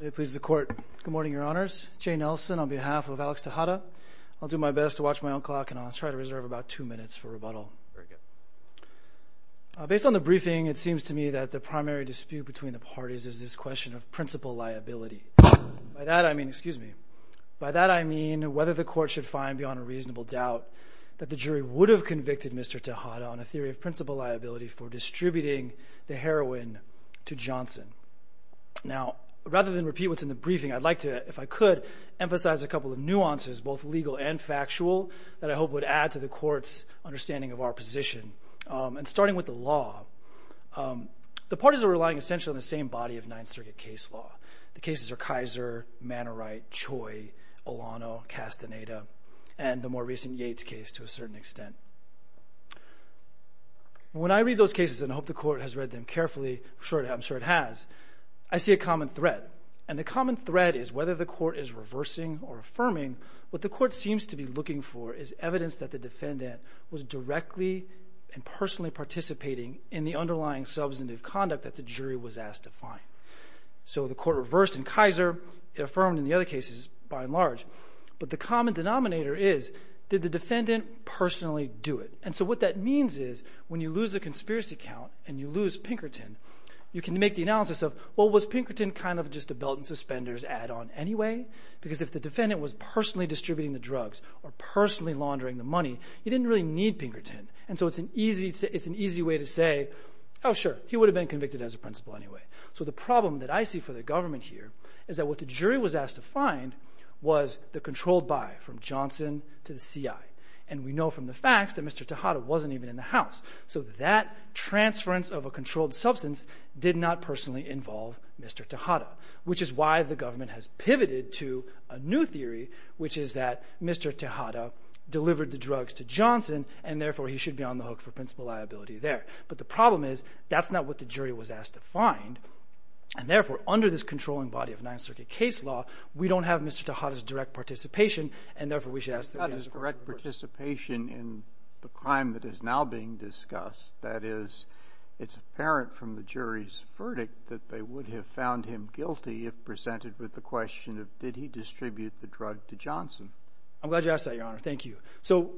Good morning, Your Honors. Jay Nelson on behalf of Alex Tejeda. I'll do my best to watch my own clock and I'll try to reserve about two minutes for rebuttal. Based on the briefing, it seems to me that the primary dispute between the parties is this question of principal liability. By that I mean, excuse me, by that I mean whether the court should find beyond a reasonable doubt that the jury would have convicted Mr. Tejeda on a theory of principal liability for distributing the heroin to Johnson. Now, rather than repeat what's in the briefing, I'd like to, if I could, emphasize a couple of nuances both legal and factual that I hope would add to the court's understanding of our position. And starting with the law, the parties are relying essentially on the same body of Ninth Circuit case law. The cases are Kaiser, Manawright, Choi, Olano, Castaneda, and the more recent Yates case to a certain extent. When I read those cases, and I hope the court has read them carefully, I'm sure it has, I see a common thread. And the common thread is whether the court is reversing or affirming, what the court seems to be looking for is evidence that the defendant was directly and personally participating in the underlying substantive conduct that the jury was asked to find. So the court reversed in Kaiser, it affirmed in the other cases by and large. But the common denominator is, did the defendant personally do it? And so what that means is when you lose a conspiracy count and you lose Pinkerton, you can make the analysis of, well, was Pinkerton kind of just a belt and suspenders add-on anyway? Because if the defendant was personally distributing the drugs or personally laundering the money, he didn't really need Pinkerton. And so it's an easy way to say, oh, sure, he would have been convicted as a principal anyway. So the problem that I see for the government here is that what the jury was asked to find was the controlled by, from Johnson to the CI. And we know from the facts that Mr. Tejada wasn't even in the house. So that transference of a controlled substance did not personally involve Mr. Tejada, which is why the government has pivoted to a new theory, which is that Mr. Tejada delivered the drugs to Johnson, and therefore he should be on the hook for principal liability there. But the problem is, that's not what the jury was asked to find. And therefore, under this controlling body of Ninth Circuit case law, we don't have Mr. Tejada's direct participation. And therefore, we should ask the court to reverse it. You've got his direct participation in the crime that is now being discussed. That is, it's apparent from the jury's verdict that they would have found him guilty if presented with the question of, did he distribute the drug to Johnson? I'm glad you asked that, Your Honor. Thank you. So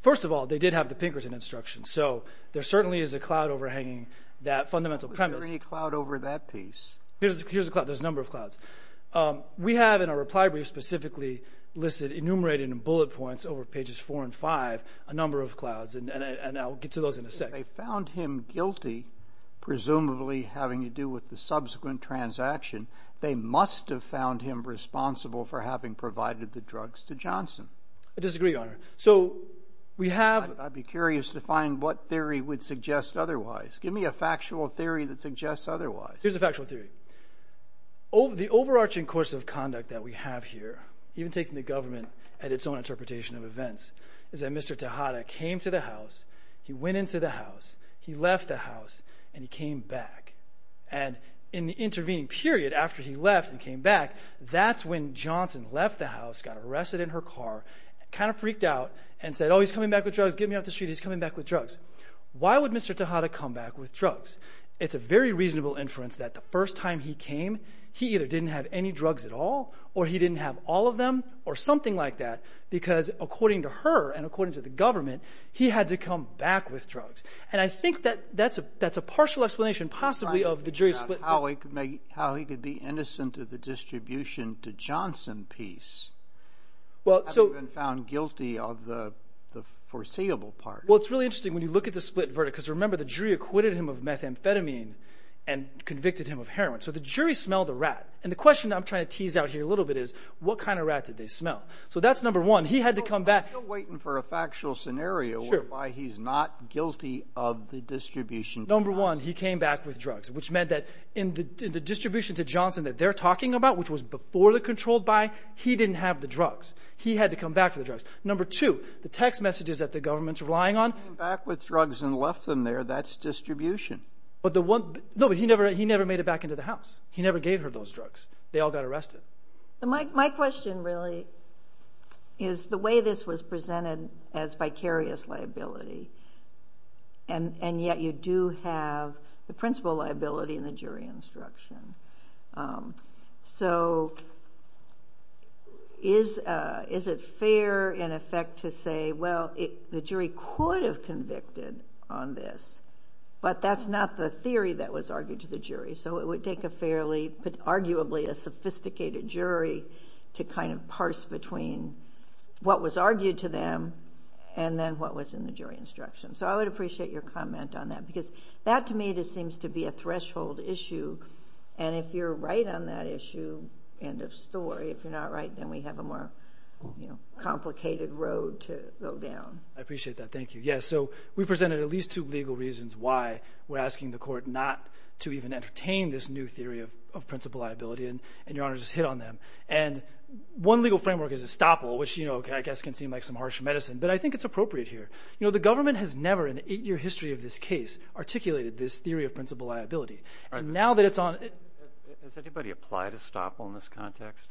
first of all, they did have the Pinkerton instructions. So there certainly is a cloud overhanging that fundamental premise. Was there any cloud over that piece? Here's a cloud. There's a number of clouds. We have in our reply brief specifically listed, enumerated in bullet points over pages 4 and 5, a number of clouds. And I'll get to those in a sec. If they found him guilty, presumably having to do with the subsequent transaction, they must have found him responsible for having provided the drugs to Johnson. I disagree, Your Honor. So we have I'd be curious to find what theory would suggest otherwise. Give me a factual theory that suggests otherwise. Here's a factual theory. The overarching course of conduct that we have here, even taking the government at its own interpretation of events, is that Mr. Tejada came to the house, he went into the house, he left the house, and he came back. And in the intervening period after he left and came back, that's when Johnson left the house, got arrested in her car, kind of freaked out, and said, oh, he's coming back with drugs, get me off the street, he's coming back with drugs. Why would Mr. Tejada come back with drugs? It's a very reasonable inference that the first time he came, he either didn't have any drugs at all, or he didn't have all of them, or something like that, because according to her and according to the government, he had to come back with drugs. And I think that that's a partial explanation possibly of the jury's split. How he could be innocent of the distribution to Johnson piece. Well, so... And found guilty of the foreseeable part. Well, it's really interesting when you look at the split verdict, because remember the jury acquitted him of methamphetamine and convicted him of heroin. So the jury smelled a rat. And the question I'm trying to tease out here a little bit is, what kind of rat did they smell? So that's number one. He had to come back... Well, I'm still waiting for a factual scenario whereby he's not guilty of the distribution to Johnson. which was before the controlled buy, he didn't have the drugs. He had to come back for the drugs. Number two, the text messages that the government's relying on... Came back with drugs and left them there, that's distribution. But the one... No, but he never made it back into the house. He never gave her those drugs. They all got arrested. My question really is the way this was presented as vicarious liability, and yet you do have the principal liability in the jury instruction. So is it fair in effect to say, well, the jury could have convicted on this, but that's not the theory that was argued to the jury. So it would take a fairly, arguably a sophisticated jury to kind of parse between what was argued to them and then what was in the jury instruction. So I would appreciate your comment on that, because that to me just seems to be a threshold issue. And if you're right on that issue, end of story. If you're not right, then we have a more complicated road to go down. I appreciate that. Thank you. Yeah, so we presented at least two legal reasons why we're asking the court not to even entertain this new theory of principal liability, and your Honor just hit on them. And one legal framework is estoppel, which I guess can seem like some harsh medicine, but I think it's appropriate here. You know, the government has never in the eight-year history of this case articulated this theory of principal liability. And now that it's on... Has anybody applied estoppel in this context?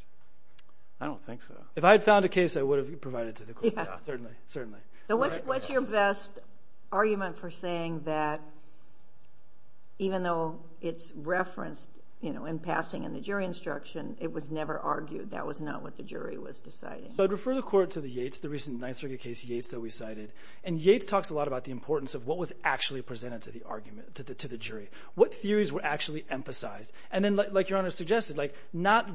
I don't think so. If I had found a case, I would have provided it to the court. Yeah. Certainly, certainly. What's your best argument for saying that even though it's referenced, you know, in passing in the jury instruction, it was never argued, that was not what the jury was deciding? I'd refer the court to the Yates, the recent Ninth Circuit case, Yates that we cited. And Yates talks a lot about the importance of what was actually presented to the argument, to the jury. What theories were actually emphasized? And then, like your Honor suggested, like not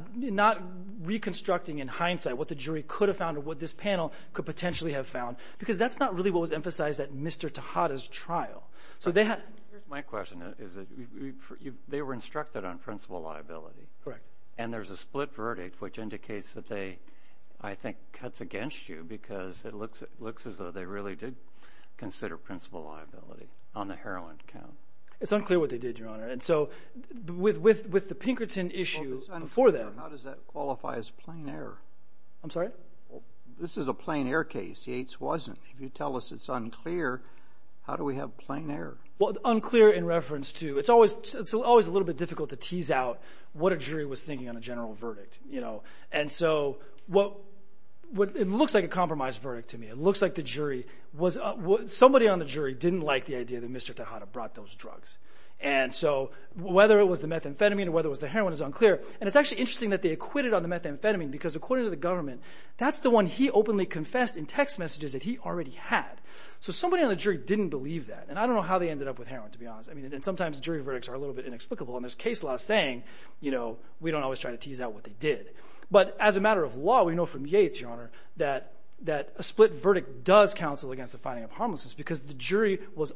reconstructing in hindsight what the jury could have found or what this panel could potentially have found, because that's not really what was emphasized at Mr. Tejada's trial. So they had... My question is that they were instructed on principal liability. Correct. And there's a split verdict, which indicates that they, I think, cuts against you because it looks as though they really did consider principal liability on the heroin count. It's unclear what they did, Your Honor. And so, with the Pinkerton issue before that... How does that qualify as plain error? I'm sorry? This is a plain error case. Yates wasn't. If you tell us it's unclear, how do we have plain error? Well, unclear in reference to... It's always a little bit difficult to tease out what a jury was thinking on a general verdict. And so, it looks like a compromised verdict to me. It looks like the jury was... Somebody on the jury didn't like the idea that Mr. Tejada brought those drugs. And so, whether it was the methamphetamine or whether it was the heroin is unclear. And it's actually interesting that they acquitted on the methamphetamine because, according to the government, that's the one he openly confessed in text messages that he already had. So, somebody on the jury didn't believe that. And I don't know how they ended up with heroin, to be honest. And sometimes, jury verdicts are a little bit inexplicable. And there's case law saying, you know, we don't always try to tease out what they did. But, as a matter of law, we know from Yates, Your Honor, that a split verdict does counsel against the finding of harmlessness because the jury was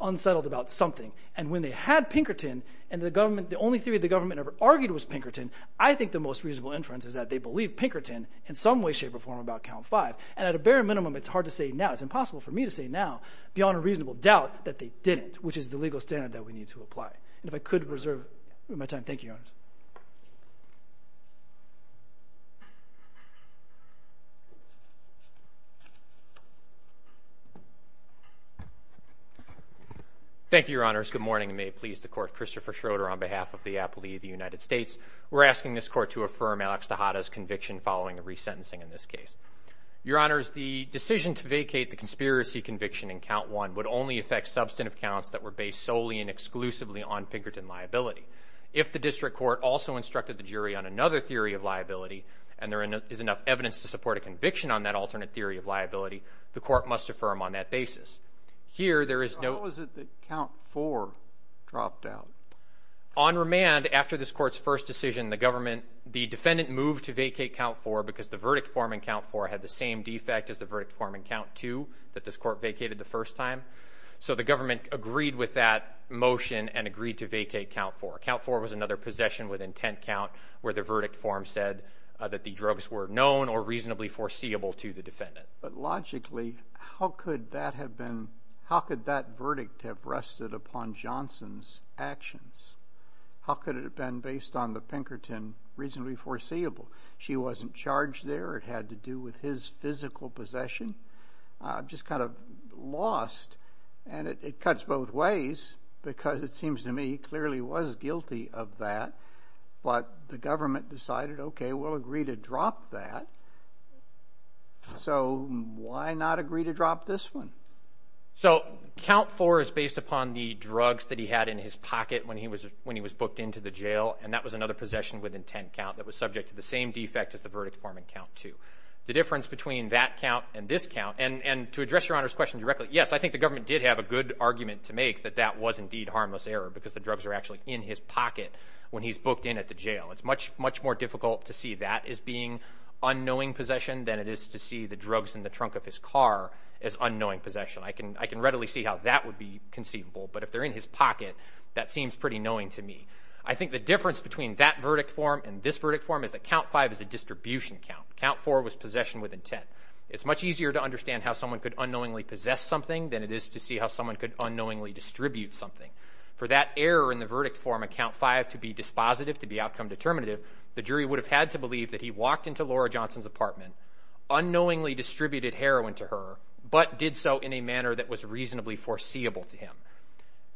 unsettled about something. And when they had Pinkerton, and the only theory the government ever argued was Pinkerton, I think the most reasonable inference is that they believed Pinkerton in some way, shape, or form about count five. And at a bare minimum, it's hard to say now. It's impossible for me to say now, beyond a reasonable doubt, that they didn't, which is the legal standard that we need to apply. And if I could reserve my time, thank you, Your Honors. Thank you, Your Honors. Good morning, and may it please the Court. Christopher Schroeder, on behalf of the aptly of the United States. We're asking this Court to affirm Alex DeHatta's conviction following a resentencing in this case. Your Honors, the decision to vacate the conspiracy conviction in count one would only affect substantive counts that were based solely and exclusively on Pinkerton liability. If the district court also instructed the jury on another theory of liability, and there is enough evidence to support a conviction on that alternate theory of liability, the Court must affirm on that basis. Here, there is no... How is it that count four dropped out? On remand, after this Court's first decision, the defendant moved to vacate count four because the verdict form in count four had the same defect as the verdict form in count two that this Court vacated the first time. So the government agreed with that motion and agreed to vacate count four. Count four was another possession with intent count where the verdict form said that the drugs were known or reasonably foreseeable to the defendant. But logically, how could that have been... How could that verdict have rested upon Johnson's actions? How could it have been based on the Pinkerton reasonably foreseeable? She wasn't charged there. It had to do with his physical possession. Just kind of lost, and it cuts both ways because it seems to me he clearly was guilty of that, but the government decided, okay, we'll agree to drop that. So why not agree to drop this one? So count four is based upon the drugs that he had in his pocket when he was booked into the jail, and that was another possession with intent count that was subject to the same defect as the verdict form in count two. The difference between that count and this count, and to address Your Honor's question directly, yes, I think the government did have a good argument to make that that was indeed harmless error because the drugs were actually in his pocket when he's booked in at the jail. It's much more difficult to see that as being unknowing possession than it is to see the drugs in the trunk of his car as unknowing possession. I can readily see how that would be conceivable, but if they're in his pocket, that seems pretty knowing to me. I think the difference between that verdict form and this verdict form is that count five is a distribution count. Count four was possession with intent. It's much easier to understand how someone could unknowingly possess something than it is to see how someone could unknowingly distribute something. For that error in the verdict form at count five to be dispositive, to be outcome determinative, the jury would have had to believe that he walked into Laura Johnson's apartment, unknowingly distributed heroin to her, but did so in a manner that was reasonably foreseeable to him.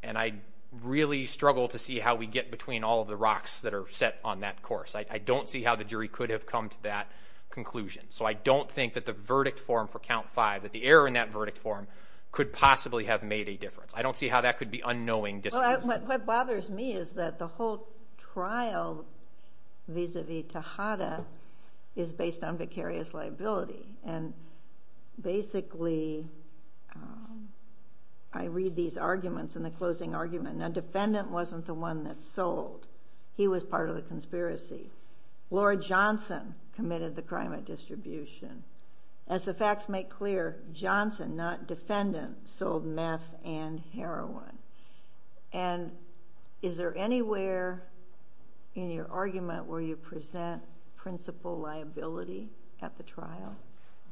And I really struggle to see how we get between all of the rocks that are set on that course. I don't see how the jury could have come to that conclusion. So I don't think that the verdict form for count five, that the error in that verdict form, could possibly have made a difference. I don't see how that could be unknowing distribution. What bothers me is that the whole trial vis-a-vis Tejada is based on vicarious liability, and basically I read these arguments in the closing argument. Now, defendant wasn't the one that sold. He was part of the conspiracy. Laura Johnson committed the crime of distribution. As the facts make clear, Johnson, not defendant, sold meth and heroin. And is there anywhere in your argument where you present principal liability at the trial?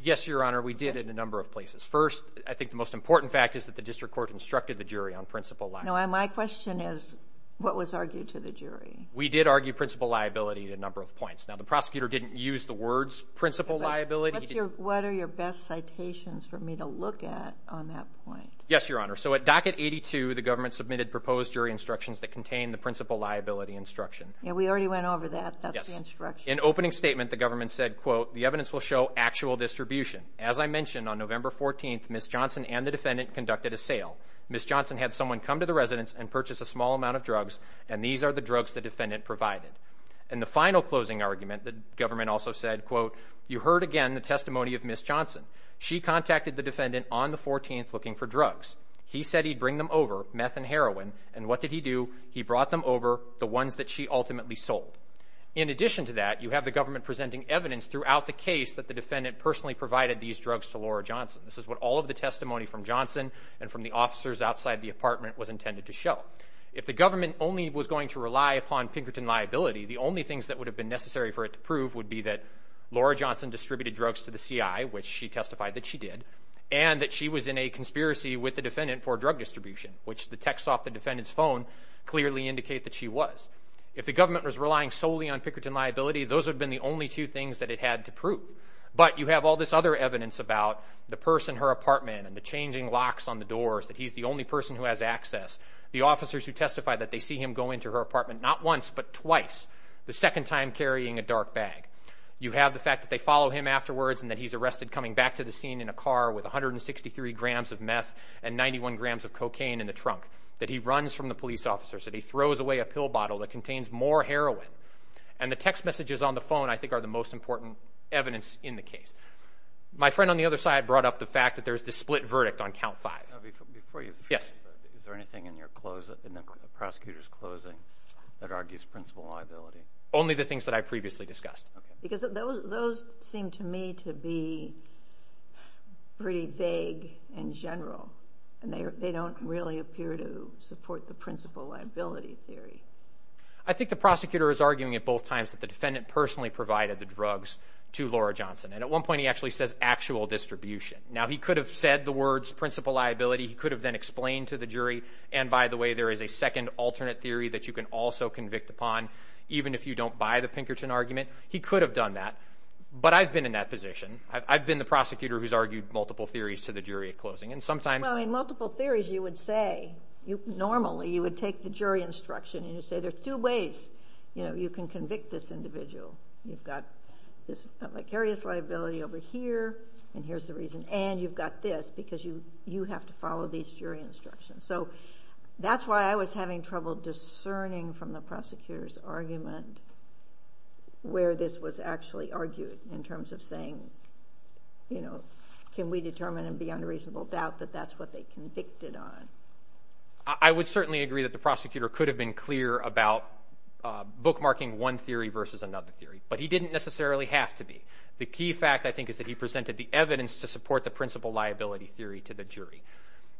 Yes, Your Honor. We did in a number of places. First, I think the most important fact is that the district court instructed the jury on principal liability. No, my question is what was argued to the jury? We did argue principal liability in a number of points. Now, the prosecutor didn't use the words principal liability. What are your best citations for me to look at on that point? Yes, Your Honor. So at docket 82, the government submitted proposed jury instructions that contained the principal liability instruction. Yeah, we already went over that. That's the instruction. In opening statement, the government said, quote, the evidence will show actual distribution. As I mentioned, on November 14th, Ms. Johnson and the defendant conducted a sale. Ms. Johnson had someone come to the residence and purchase a small amount of drugs, and these are the drugs the defendant provided. And the final closing argument, the government also said, quote, you heard again the testimony of Ms. Johnson. She contacted the defendant on the 14th looking for drugs. He said he'd bring them over, meth and heroin, and what did he do? He brought them over, the ones that she ultimately sold. In addition to that, you have the government presenting evidence throughout the case that the defendant personally provided these drugs to Laura Johnson. This is what all of the testimony from Johnson and from the officers outside the apartment was intended to show. If the government only was going to rely upon Pinkerton liability, the only things that would have been necessary for it to prove would be that Laura Johnson distributed drugs to the CI, which she testified that she did, and that she was in a conspiracy with the defendant for drug distribution, which the text off the defendant's phone clearly indicate that she was. If the government was relying solely on Pinkerton liability, those would have been the only two things that it had to prove. But you have all this other evidence about the purse in her apartment and the changing locks on the doors, that he's the only person who has access, the officers who testify that they see him go into her apartment not once but twice, the second time carrying a dark bag. You have the fact that they follow him afterwards and that he's arrested coming back to the scene in a car with 163 grams of meth and 91 grams of cocaine in the trunk, that he runs from the police officers, that he throws away a pill bottle that contains more heroin, and the text messages on the phone I think are the most important evidence in the case. My friend on the other side brought up the fact that there's the split verdict on Count 5. Before you finish, is there anything in the prosecutor's closing that argues principal liability? Only the things that I previously discussed. Because those seem to me to be pretty vague and general, and they don't really appear to support the principal liability theory. I think the prosecutor is arguing at both times that the defendant personally provided the drugs to Laura Johnson, and at one point he actually says actual distribution. Now he could have said the words principal liability. He could have then explained to the jury, and by the way there is a second alternate theory that you can also convict upon even if you don't buy the Pinkerton argument. He could have done that, but I've been in that position. I've been the prosecutor who's argued multiple theories to the jury at closing. Well, in multiple theories you would say, normally you would take the jury instruction and you'd say there are two ways you can convict this individual. You've got this vicarious liability over here, and here's the reason, and you've got this because you have to follow these jury instructions. So that's why I was having trouble discerning from the prosecutor's argument where this was actually argued in terms of saying, can we determine and beyond a reasonable doubt that that's what they convicted on. I would certainly agree that the prosecutor could have been clear about bookmarking one theory versus another theory, but he didn't necessarily have to be. The key fact, I think, is that he presented the evidence to support the principal liability theory to the jury.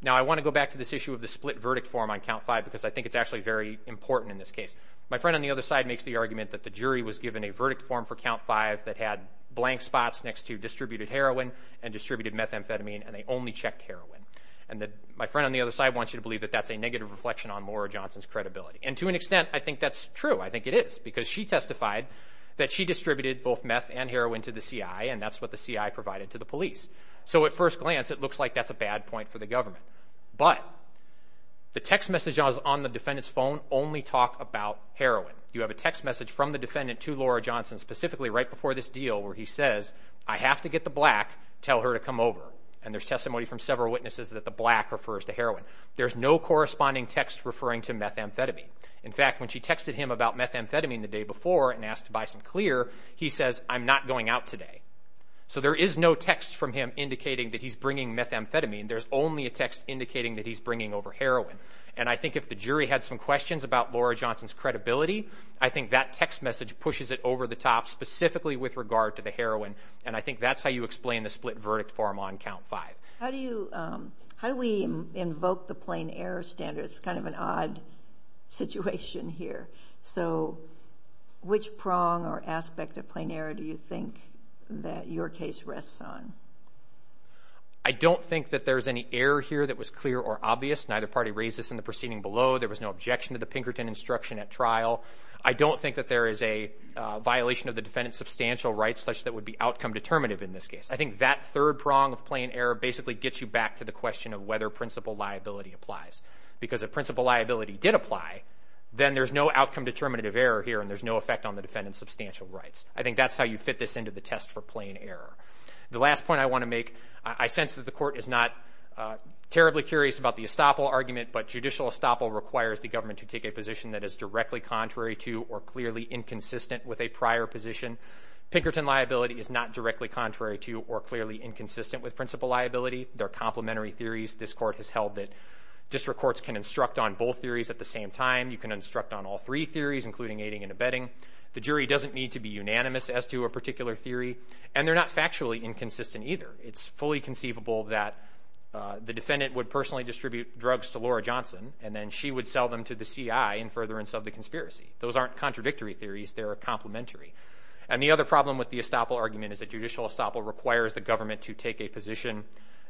Now I want to go back to this issue of the split verdict form on Count 5 because I think it's actually very important in this case. My friend on the other side makes the argument that the jury was given a verdict form for Count 5 that had blank spots next to distributed heroin and distributed methamphetamine, and they only checked heroin. My friend on the other side wants you to believe that that's a negative reflection on Laura Johnson's credibility, and to an extent I think that's true. I think it is because she testified that she distributed both meth and heroin to the CI, and that's what the CI provided to the police. So at first glance, it looks like that's a bad point for the government. But the text messages on the defendant's phone only talk about heroin. You have a text message from the defendant to Laura Johnson, specifically right before this deal where he says, I have to get the black, tell her to come over, and there's testimony from several witnesses that the black refers to heroin. There's no corresponding text referring to methamphetamine. In fact, when she texted him about methamphetamine the day before and asked to buy some clear, he says, I'm not going out today. So there is no text from him indicating that he's bringing methamphetamine. There's only a text indicating that he's bringing over heroin. And I think if the jury had some questions about Laura Johnson's credibility, I think that text message pushes it over the top, specifically with regard to the heroin, and I think that's how you explain the split verdict form on Count 5. How do we invoke the plain error standard? It's kind of an odd situation here. So which prong or aspect of plain error do you think that your case rests on? I don't think that there's any error here that was clear or obvious. Neither party raised this in the proceeding below. There was no objection to the Pinkerton instruction at trial. I don't think that there is a violation of the defendant's substantial rights such that would be outcome determinative in this case. I think that third prong of plain error basically gets you back to the question of whether principal liability applies. Because if principal liability did apply, then there's no outcome determinative error here and there's no effect on the defendant's substantial rights. I think that's how you fit this into the test for plain error. The last point I want to make, I sense that the Court is not terribly curious about the estoppel argument, but judicial estoppel requires the government to take a position that is directly contrary to or clearly inconsistent with a prior position. Pinkerton liability is not directly contrary to or clearly inconsistent with principal liability. They're complementary theories. This Court has held that district courts can instruct on both theories at the same time. You can instruct on all three theories, including aiding and abetting. The jury doesn't need to be unanimous as to a particular theory, and they're not factually inconsistent either. It's fully conceivable that the defendant would personally distribute drugs to Laura Johnson and then she would sell them to the CI in furtherance of the conspiracy. Those aren't contradictory theories. They're complementary. And the other problem with the estoppel argument is that judicial estoppel requires the government to take a position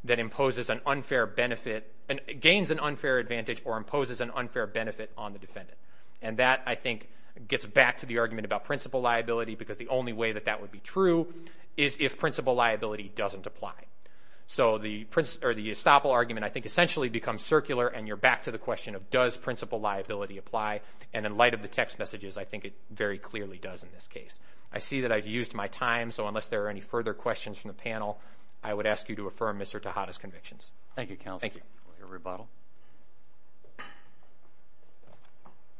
that imposes an unfair benefit and gains an unfair advantage or imposes an unfair benefit on the defendant. And that, I think, gets back to the argument about principal liability because the only way that that would be true is if principal liability doesn't apply. So the estoppel argument, I think, essentially becomes circular and you're back to the question of does principal liability apply. And in light of the text messages, I think it very clearly does in this case. I see that I've used my time, so unless there are any further questions from the panel, I would ask you to affirm Mr. Tejada's convictions. Thank you, counsel. Thank you.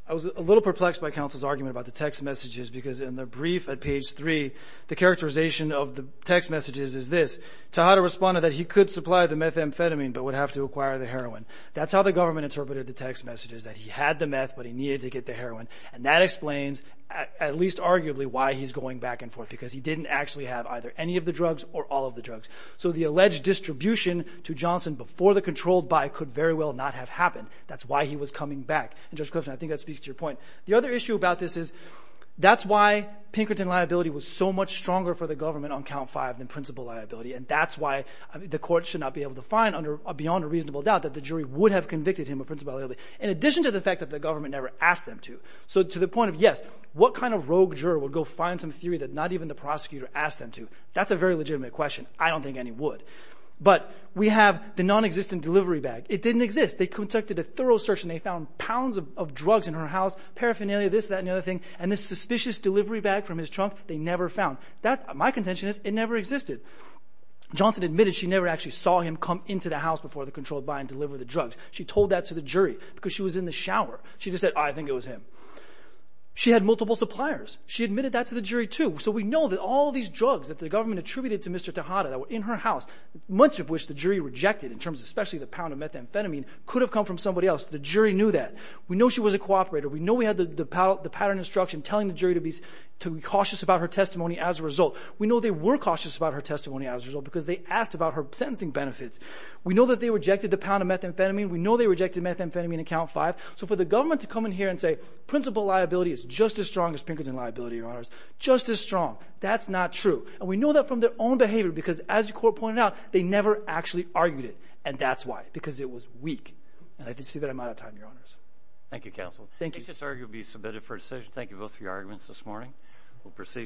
I was a little perplexed by counsel's argument about the text messages because in the brief at page 3, the characterization of the text messages is this. Tejada responded that he could supply the methamphetamine but would have to acquire the heroin. That's how the government interpreted the text messages, that he had the meth but he needed to get the heroin. And that explains, at least arguably, why he's going back and forth because he didn't actually have either any of the drugs or all of the drugs. So the alleged distribution to Johnson before the controlled buy could very well not have happened. That's why he was coming back. And, Judge Clifton, I think that speaks to your point. The other issue about this is that's why Pinkerton liability was so much stronger for the government on count five than principal liability, and that's why the court should not be able to find beyond a reasonable doubt that the jury would have convicted him of principal liability, in addition to the fact that the government never asked them to. So to the point of, yes, what kind of rogue juror would go find some theory that not even the prosecutor asked them to? That's a very legitimate question. I don't think any would. But we have the nonexistent delivery bag. It didn't exist. They conducted a thorough search and they found pounds of drugs in her house, paraphernalia, this, that, and the other thing, and this suspicious delivery bag from his trunk they never found. My contention is it never existed. Johnson admitted she never actually saw him come into the house before they controlled by and delivered the drugs. She told that to the jury because she was in the shower. She just said, I think it was him. She had multiple suppliers. She admitted that to the jury too. So we know that all these drugs that the government attributed to Mr. Tejada that were in her house, much of which the jury rejected, in terms of especially the pound of methamphetamine, could have come from somebody else. The jury knew that. We know she was a cooperator. We know we had the pattern instruction telling the jury to be cautious about her testimony as a result. We know they were cautious about her testimony as a result because they asked about her sentencing benefits. We know that they rejected the pound of methamphetamine. We know they rejected methamphetamine at count five. So for the government to come in here and say, principal liability is just as strong as Pinkerton liability, Your Honors, just as strong, that's not true. And we know that from their own behavior because, as the court pointed out, they never actually argued it, and that's why, because it was weak. And I can see that I'm out of time, Your Honors. Thank you, Counsel. Thank you. This argument will be submitted for decision. Thank you both for your arguments this morning. We'll proceed.